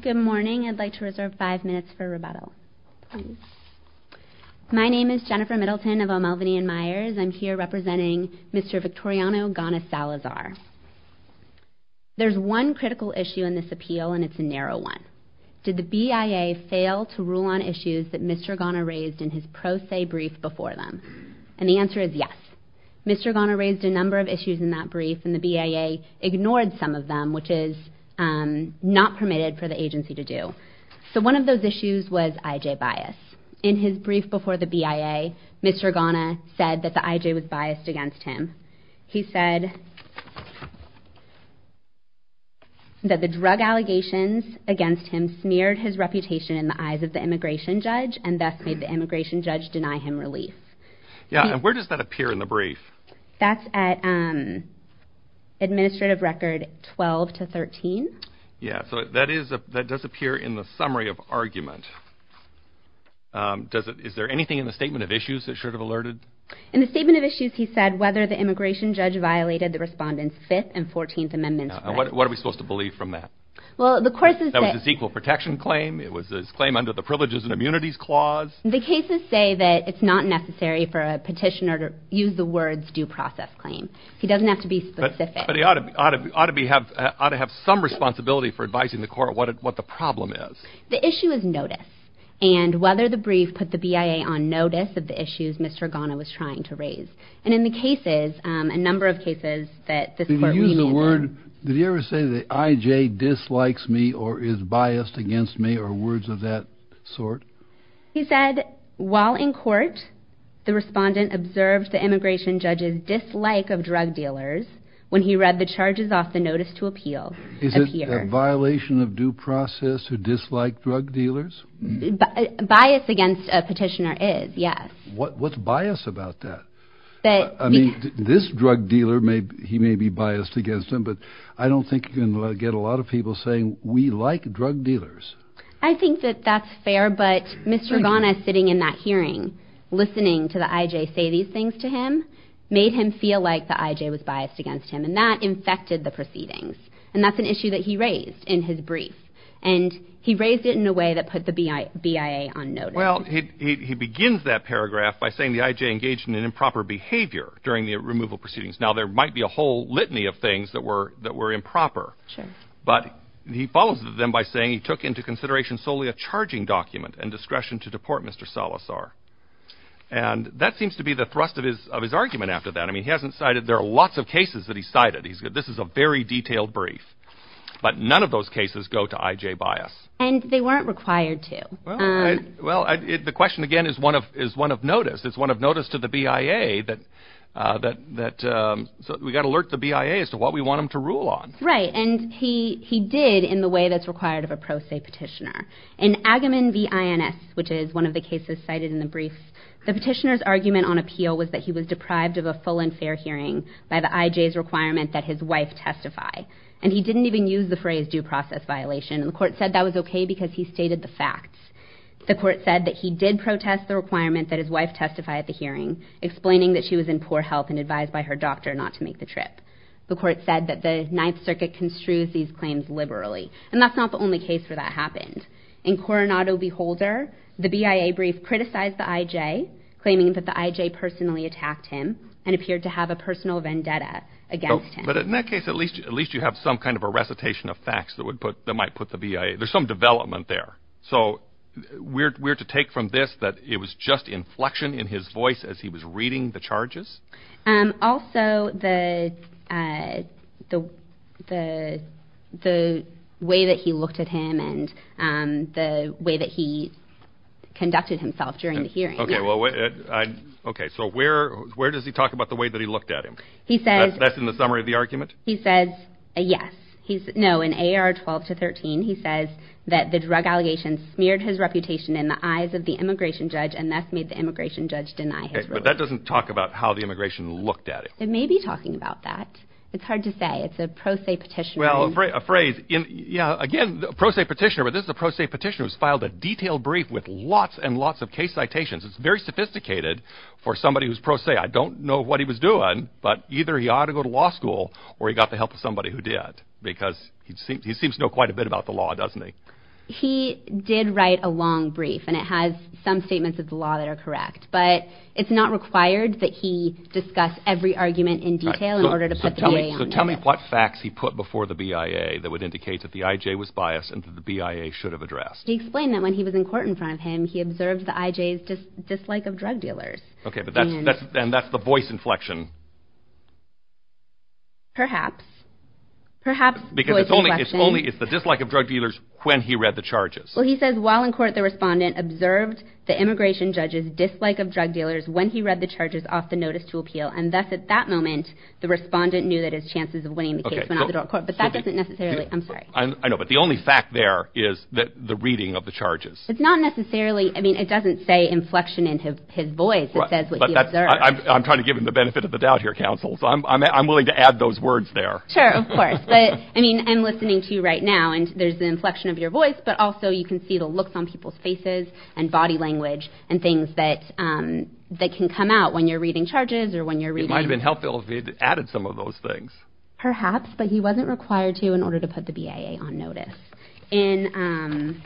Good morning. I'd like to reserve five minutes for rebuttal. My name is Jennifer Middleton of O'Melveny & Myers. I'm here representing Mr. Victoriano Gauna-Salazar. There's one critical issue in this appeal and it's a narrow one. Did the BIA fail to rule on issues that Mr. Gauna raised in his pro se brief before them? And the answer is yes. Mr. Gauna raised a number of issues in that brief and the permitted for the agency to do. So one of those issues was IJ bias. In his brief before the BIA, Mr. Gauna said that the IJ was biased against him. He said that the drug allegations against him smeared his reputation in the eyes of the immigration judge and thus made the immigration judge deny him relief. Yeah, and where does that appear in the brief? That's at administrative record 12 to 13. Yeah, so that does appear in the summary of argument. Is there anything in the statement of issues that should have alerted? In the statement of issues, he said whether the immigration judge violated the respondent's 5th and 14th amendments. What are we supposed to believe from that? That was his equal protection claim. It was his claim under the privileges and immunities clause. The cases say that it's not necessary for a petitioner to use the words due process claim. He doesn't have to be specific. But he ought to have some responsibility for advising the court what the problem is. The issue is notice and whether the brief put the BIA on notice of the issues Mr. Gauna was trying to raise. And in the cases, a number of cases, that this court... Did he ever say the IJ dislikes me or is biased against me or words of that sort? He said while in court, the respondent observed the immigration judges dislike of drug dealers when he read the charges off the notice to appeal. Is it a violation of due process to dislike drug dealers? Bias against a petitioner is, yes. What's bias about that? I mean, this drug dealer may, he may be biased against him, but I don't think you can get a lot of people saying we like drug dealers. I think that that's fair. But Mr. Gauna sitting in that hearing, listening to the IJ say these things to him, made him feel like the IJ was biased against him and that infected the proceedings. And that's an issue that he raised in his brief. And he raised it in a way that put the BIA on notice. Well, he begins that paragraph by saying the IJ engaged in an improper behavior during the removal proceedings. Now, there might be a whole litany of things that were that were took into consideration solely a charging document and discretion to deport Mr. Salazar. And that seems to be the thrust of his of his argument after that. I mean, he hasn't cited there are lots of cases that he cited. He's good. This is a very detailed brief. But none of those cases go to IJ bias. And they weren't required to. Well, the question, again, is one of is one of notice. It's one of notice to the BIA that that that we got alert the BIA as to what we want them to rule on. Right. And he he did in the way that's required of a pro se petitioner. In Agamemnon v. INS, which is one of the cases cited in the brief, the petitioner's argument on appeal was that he was deprived of a full and fair hearing by the IJ's requirement that his wife testify. And he didn't even use the phrase due process violation. And the court said that was OK because he stated the facts. The court said that he did protest the requirement that his wife testify at the hearing, explaining that she was in poor health and advised by her doctor not to make the trip. The court said that the Ninth Circuit construes these claims liberally. And that's not the only case where that happened. In Coronado Beholder, the BIA brief criticized the IJ, claiming that the IJ personally attacked him and appeared to have a personal vendetta against him. But in that case, at least at least you have some kind of a recitation of facts that would put that might put the BIA there's some development there. So we're to take from this that it was just inflection in his voice as he was the the the way that he looked at him and the way that he conducted himself during the hearing. Okay, well, okay. So where where does he talk about the way that he looked at him? He says that's in the summary of the argument. He says, yes, he's no in AR 12 to 13. He says that the drug allegations smeared his reputation in the eyes of the immigration judge and that's made the immigration judge deny. But that doesn't talk about how the immigration looked at it. It may be talking about that. It's hard to say it's a pro se petition. Well, a phrase in Yeah, again, pro se petitioner, but this is a pro se petitioners filed a detailed brief with lots and lots of case citations. It's very sophisticated. For somebody who's pro se, I don't know what he was doing. But either he ought to go to law school, or he got the help of somebody who did, because he seems he seems to know quite a bit about the law, doesn't he? He did write a long brief, and it has some statements of the law that are correct. But it's not required that he discuss every argument in detail in order to tell me what facts he put before the BIA that would indicate that the IJ was biased and the BIA should have addressed he explained that when he was in court in front of him, he observed the IJs just dislike of drug dealers. Okay, but that's, that's, then that's the voice inflection. Perhaps, perhaps, because it's only it's only it's the dislike of drug dealers when he read the charges. Well, he says while in court, the respondent observed the immigration judges dislike of drug dealers when he read the charges off the notice to appeal. And that's at that moment, the respondent knew that his chances of winning the case, but that doesn't necessarily I'm sorry, I know. But the only fact there is that the reading of the charges, it's not necessarily I mean, it doesn't say inflection in his voice. I'm trying to give him the benefit of the doubt here, counsel. So I'm willing to add those words there. Sure, of course. But I mean, I'm listening to you right now. And there's the inflection of your voice. But also you can see the looks on people's faces, and body language and things that that can come out when you're reading charges or when you're reading might have been helpful if he added some of those things, perhaps, but he wasn't required to in order to put the BIA on notice. In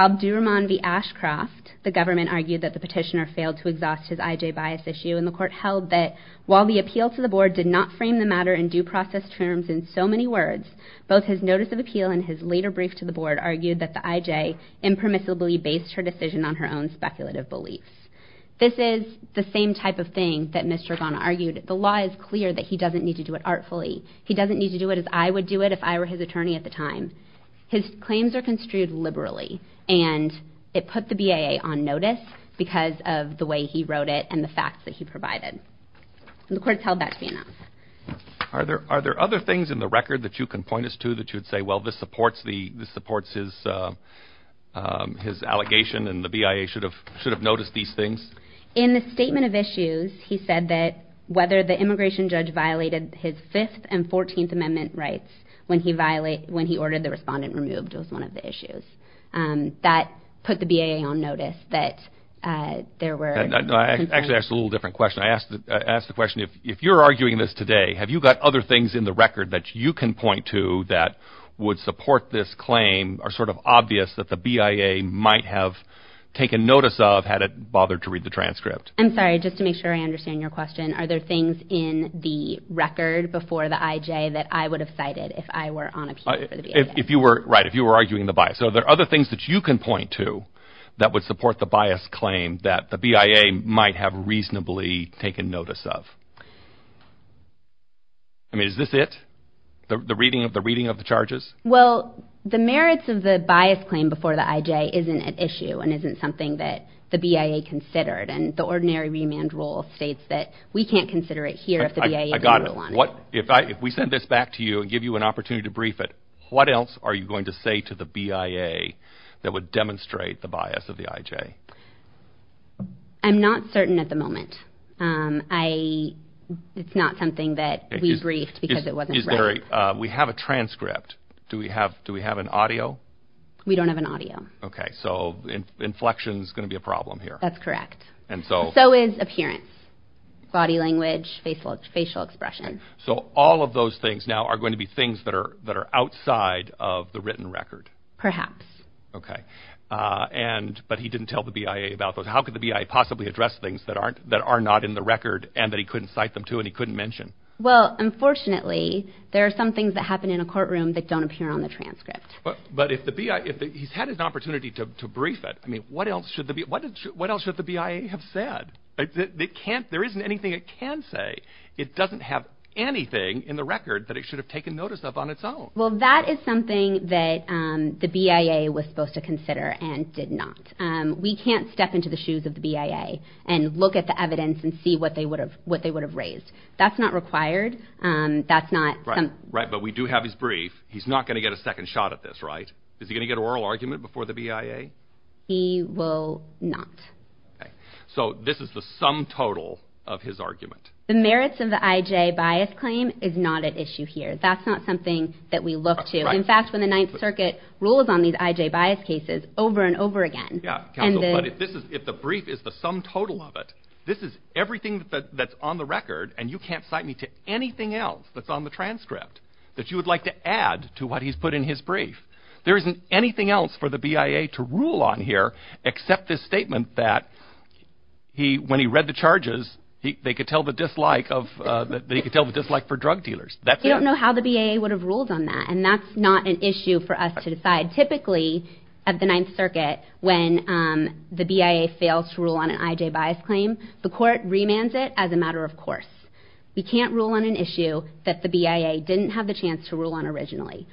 Abdul Rahman v. Ashcroft, the government argued that the petitioner failed to exhaust his IJ bias issue in the court held that while the appeal to the board did not frame the matter in due process terms in so many words, both his notice of appeal and his later brief to the board argued that the IJ impermissibly based her decision on her own speculative beliefs. This is the same type of thing that Mr. Ghana argued, the law is clear that he doesn't need to do it artfully. He doesn't need to do it as I would do it if I were his attorney at the time. His claims are construed liberally. And it put the BIA on notice because of the way he wrote it and the facts that he provided. The court held that to be enough. Are there are there other things in the record that you can point us to that you'd say, well, this supports the supports his his allegation and the BIA should have should have noticed these things. In the statement of issues, he said that whether the immigration judge violated his fifth and 14th Amendment rights when he violate when he ordered the respondent removed was one of the issues that put the BIA on notice that there were actually a little different question. I asked the question, if you're arguing this today, have you got other things in the record that you can point to that would support this claim are sort of obvious that the BIA might have taken notice of had it bothered to read the transcript? I'm sorry, just to make sure I understand your question. Are there things in the record before the IJ that I would have cited if I were on if you were right, if you were arguing the bias? So there are other things that you can point to that would support the bias claim that the BIA might have reasonably taken notice of. I mean, is this it? The reading of the reading of the charges? Well, the merits of the bias claim before the IJ isn't an issue and isn't something that the BIA considered and the ordinary remand rule states that we can't consider it here. If we send this back to you and give you an opportunity to brief it, what else are you going to say to the BIA that would demonstrate the bias of the IJ? I'm not certain at the moment. It's not something that we briefed because it wasn't right. We have a transcript. Do we have an audio? We don't have an audio. Okay, so inflection is going to be a problem here. That's correct. So is appearance, body language, facial expressions. So all of those things now are going to be things that are outside of the written record? Perhaps. Okay. And but he didn't tell the BIA about those. How could the BIA possibly address things that aren't that are not in the record and that he couldn't cite them to and he couldn't mention? Well, unfortunately, there are some things that happen in a courtroom that don't appear on the transcript. But if the BIA, if he's had an opportunity to brief it, I mean, what else should the BIA have said? They can't. There isn't anything it can say. It doesn't have anything in the record that it should have taken notice of on its own. Well, that is something that the BIA was supposed to consider and did not. We can't step into the shoes of the BIA and look at the evidence and see what they would have what they would have raised. That's not required. That's not right. But we do have his brief. He's not going to get a second shot at this. Right. Is he going to get oral argument before the BIA? He will not. So this is the sum total of his argument. The merits of the IJ bias claim is not at issue here. That's not something that we look to. In fact, when the Ninth Circuit rules on these IJ bias cases over and over again. Yeah. And this is if the brief is the sum total of it. This is everything that's on the record. And you can't cite me to anything else that's on the transcript that you would like to add to what he's put in his brief. There isn't anything else for the BIA to rule on here except this statement that he when he read the charges, they could tell the dislike of that. They could tell the dislike for drug dealers. You don't know how the BIA would have ruled on that. And that's not an issue for us to decide. Typically, at the Ninth Circuit, when the BIA fails to rule on an IJ bias claim, the court remands it as a matter of course. We can't rule on an issue that the BIA didn't have the chance to rule on originally.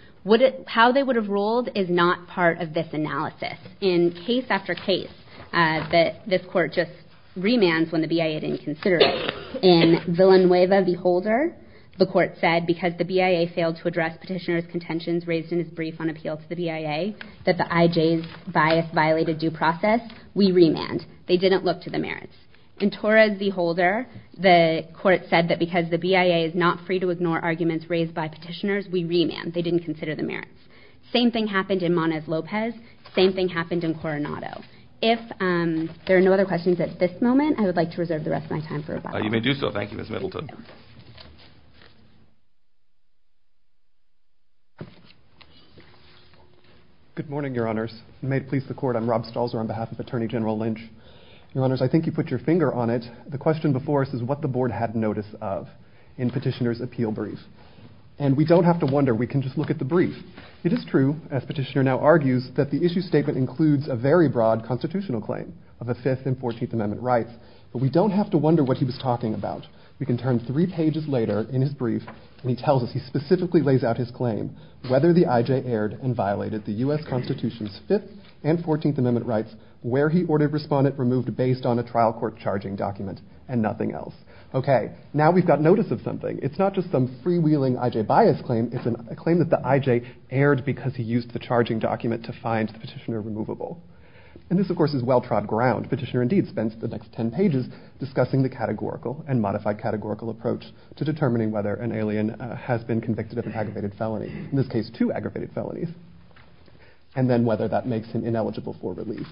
How they would have ruled is not part of this analysis. In case after case that this court just remands when the BIA didn't consider it. In Villanueva v. Holder, the court said because the BIA failed to address petitioner's contentions raised in his brief on appeal to the BIA, that the IJ's bias violated due process, we remand. They didn't look to the merits. In Torres v. Holder, the court said that because the BIA is not free to ignore arguments raised by petitioners, we remand. They didn't consider the merits. Same thing happened in Moniz-Lopez. Same thing happened in Coronado. If there are no other questions at this moment, I would like to reserve the rest of my time for rebuttal. You may do so. Thank you, Ms. Middleton. Good morning, your honors. May it please the court, I'm Rob Stalzer on behalf of Attorney General Lynch. Your honors, I think you put your finger on it. The question before us is what the board had notice of in petitioner's appeal brief. And we don't have to wonder. We can just look at the brief. It is true, as petitioner now argues, that the issue statement includes a very broad constitutional claim of a 5th and 14th amendment right, but we don't have to wonder what he was talking about. We can turn three pages later in his brief and he tells us he specifically lays out his claim, whether the IJ erred and violated the U.S. Constitution's 5th and 14th amendment rights, where he ordered respondent removed based on a trial court charging document and nothing else. OK, now we've got notice of something. It's not just some freewheeling IJ bias claim. It's a claim that the IJ erred because he used the charging document to find the petitioner removable. And this, of course, is well-trod ground. Petitioner, indeed, spends the next 10 pages discussing the categorical and modified categorical approach to determining whether an alien has been convicted of an aggravated felony, in this case, two aggravated felonies, and then whether that makes him ineligible for release.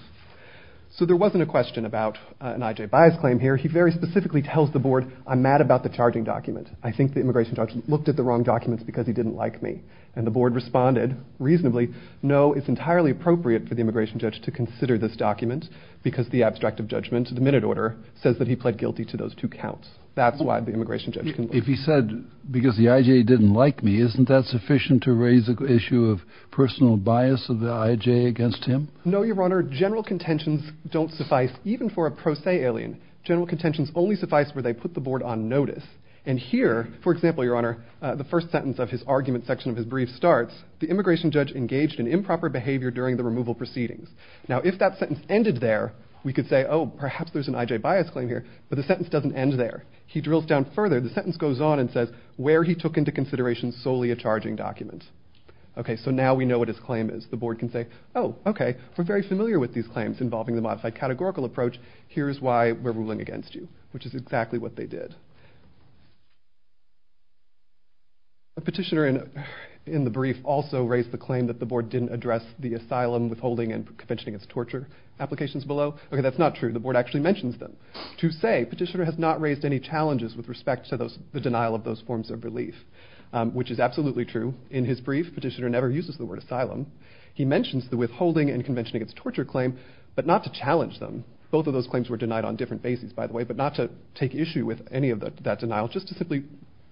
So there wasn't a question about an IJ bias claim here. He very specifically tells the board, I'm mad about the charging document. I think the immigration judge looked at the wrong documents because he didn't like me. And the board responded reasonably, no, it's entirely appropriate for the immigration judge to consider this document because the abstract of judgment, the minute order, says that he pled guilty to those two counts. That's why the immigration judge. If he said because the IJ didn't like me, isn't that sufficient to raise the issue of personal bias of the IJ against him? No, Your Honor, general contentions don't suffice even for a pro se alien. General contentions only suffice where they put the board on notice. And here, for example, Your Honor, the first sentence of his argument section of his brief starts, the immigration judge engaged in improper behavior during the removal proceedings. Now, if that sentence ended there, we could say, oh, perhaps there's an IJ bias claim here. But the sentence doesn't end there. He drills down further. The sentence goes on and says where he took into consideration solely a charging document. OK, so now we know what his claim is. The board can say, oh, OK, we're very familiar with these claims involving the modified categorical approach. Here's why we're ruling against you, which is exactly what they did. A petitioner in the brief also raised the claim that the board didn't address the asylum withholding and convention against torture applications below. OK, that's not true. The board actually mentions them. To say, petitioner has not raised any challenges with respect to the denial of those forms of relief, which is absolutely true. In his brief, petitioner never uses the word asylum. He mentions the withholding and convention against torture claim, but not to challenge them. Both of those claims were denied on different bases, by the way, but not to take issue with any of that denial, just to simply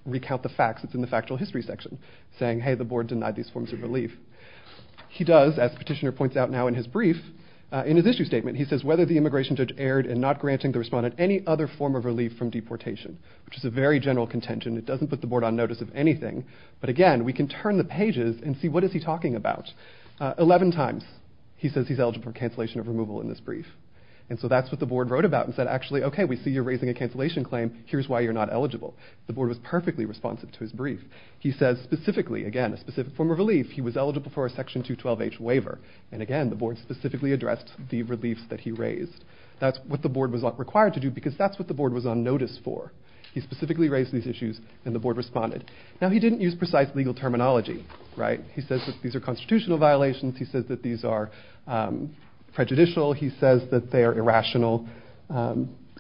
recount the facts. It's in the factual history section saying, hey, the board denied these forms of relief. He does, as petitioner points out now in his brief, in his issue statement, he says whether the immigration judge erred in not granting the respondent any other form of relief from deportation, which is a very general contention. It doesn't put the board on notice of anything. But again, we can turn the pages and see what is he talking about. Eleven times he says he's eligible for cancellation of removal in this brief. And so that's what the board wrote about and said, actually, OK, we see you're raising a cancellation claim. Here's why you're not eligible. The board was perfectly responsive to his brief. He says specifically, again, a specific form of relief. He was eligible for a Section 212H waiver. And again, the board specifically addressed the reliefs that he raised. That's what the board was required to do because that's what the board was on notice for. He specifically raised these issues and the board responded. Now, he didn't use precise legal terminology. Right. He says that these are constitutional violations. He says that these are prejudicial. He says that they are irrational,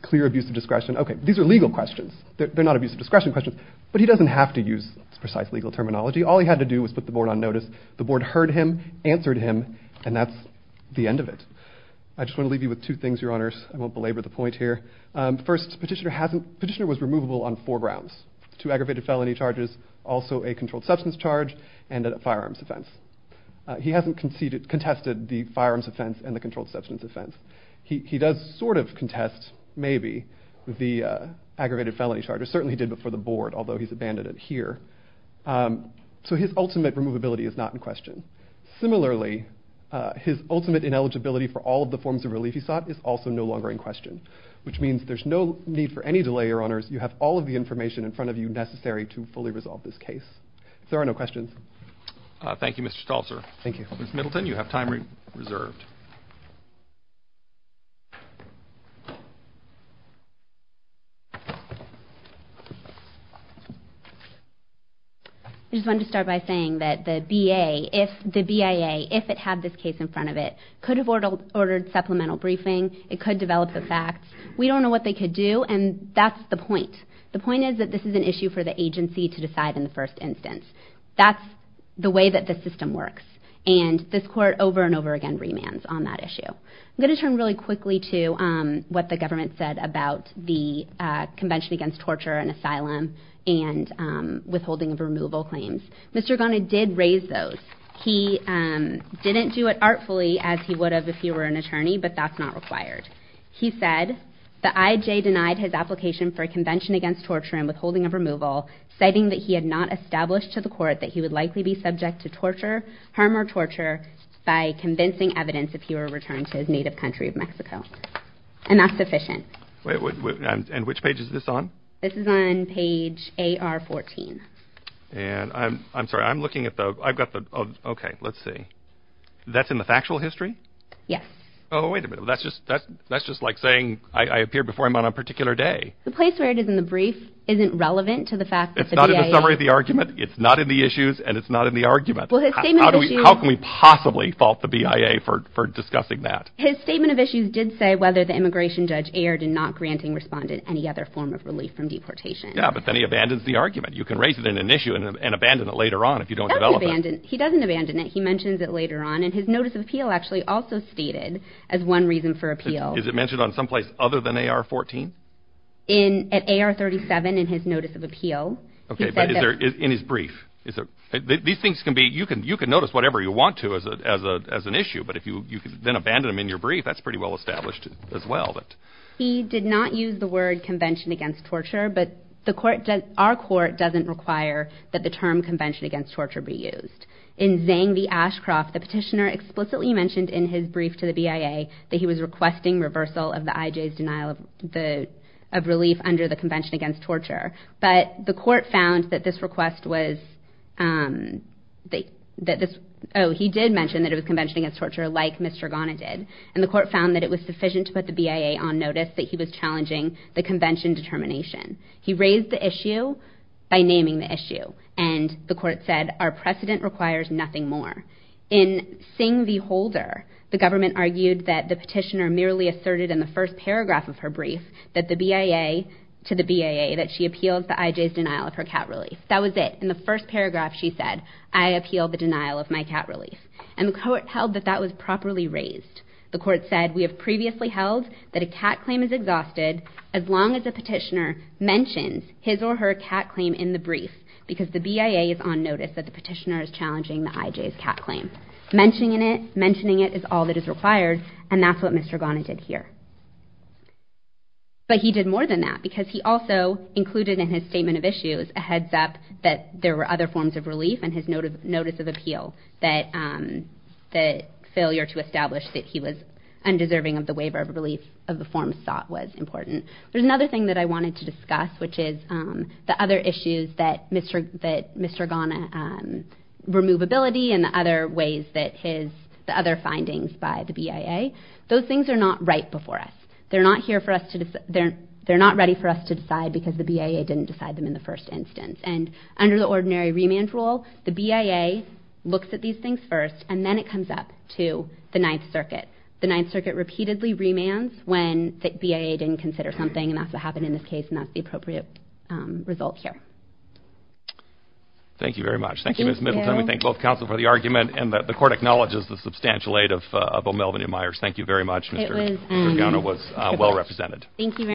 clear abuse of discretion. OK, these are legal questions. They're not abuse of discretion questions, but he doesn't have to use precise legal terminology. All he had to do was put the board on notice. The board heard him, answered him. And that's the end of it. I just want to leave you with two things, Your Honors. I won't belabor the point here. First, Petitioner was removable on four grounds, two aggravated felony charges, also a controlled substance charge and a firearms offense. He hasn't contested the firearms offense and the controlled substance offense. He does sort of contest, maybe, the aggravated felony charges. Certainly he did before the board, although he's abandoned it here. So his ultimate removability is not in question. Similarly, his ultimate ineligibility for all of the forms of relief he sought is also no longer in question, which means there's no need for any delay, Your Honors. You have all of the information in front of you necessary to fully resolve this case. There are no questions. Thank you, Mr. Stolzer. Thank you. Ms. Middleton, you have time reserved. I just wanted to start by saying that the BIA, if it had this case in front of it, could have ordered supplemental briefing. It could develop the facts. We don't know what they could do, and that's the point. The point is that this is an issue for the agency to decide in the first instance. That's the way that the system works, and this Court over and over again remands on that issue. I'm going to turn really quickly to what the government said about the Convention Against Torture and Asylum and Withholding of Removal claims. Mr. Ghani did raise those. He didn't do it artfully as he would have if he were an attorney, but that's not required. He said the IJ denied his application for a Convention Against Torture and Withholding of Removal, citing that he had not established to the Court that he would likely be subject to his native country of Mexico, and that's sufficient. And which page is this on? This is on page AR 14. And I'm sorry. I'm looking at the, I've got the, okay, let's see. That's in the factual history? Yes. Oh, wait a minute. That's just like saying I appeared before him on a particular day. The place where it is in the brief isn't relevant to the fact that the BIA... It's not in the summary of the argument. It's not in the issues, and it's not in the argument. Well, his statement is... How can we possibly fault the BIA for discussing that? His statement of issues did say whether the immigration judge erred in not granting respondent any other form of relief from deportation. Yeah, but then he abandons the argument. You can raise it in an issue and abandon it later on if you don't develop it. He doesn't abandon it. He mentions it later on, and his Notice of Appeal actually also stated as one reason for appeal. Is it mentioned on someplace other than AR 14? In, at AR 37 in his Notice of Appeal. Okay, but is there, in his brief, is there, these things can be, you can notice whatever you want to as an issue, but if you then abandon them in your brief, that's pretty well established as well. He did not use the word convention against torture, but the court, our court doesn't require that the term convention against torture be used. In Zhang v. Ashcroft, the petitioner explicitly mentioned in his brief to the BIA that he was requesting reversal of the IJ's denial of relief under the convention against torture. But the court found that this request was, that this, oh, he did mention that it was convention against torture like Mr. Ghana did, and the court found that it was sufficient to put the BIA on notice that he was challenging the convention determination. He raised the issue by naming the issue, and the court said, our precedent requires nothing more. In Singh v. Holder, the government argued that the petitioner merely asserted in the first paragraph of her brief that the BIA, to the BIA, that she appealed the IJ's denial of her cat relief. That was it. In the first paragraph, she said, I appeal the denial of my cat relief, and the court held that that was properly raised. The court said, we have previously held that a cat claim is exhausted as long as a petitioner mentions his or her cat claim in the brief because the BIA is on notice that the petitioner is challenging the IJ's cat claim. Mentioning it, mentioning it is all that is required, and that's what Mr. Ghana did here. But he did more than that, because he also included in his statement of issues a heads up that there were other forms of relief in his notice of appeal, that the failure to establish that he was undeserving of the waiver of relief of the forms sought was important. There's another thing that I wanted to discuss, which is the other issues that Mr. Ghana, removability and the other ways that his, the other findings by the BIA, those things are not right before us. They're not here for us to, they're not ready for us to decide because the BIA didn't decide them in the first instance. And under the ordinary remand rule, the BIA looks at these things first, and then it comes up to the Ninth Circuit. The Ninth Circuit repeatedly remands when the BIA didn't consider something, and that's what happened in this case, and that's the appropriate result here. Thank you very much. Thank you, Ms. Middleton. We thank both counsel for the argument, and the court acknowledges the substantial aid of O'Melveny and Myers. Thank you very much. Mr. Ghana was well represented. Thank you.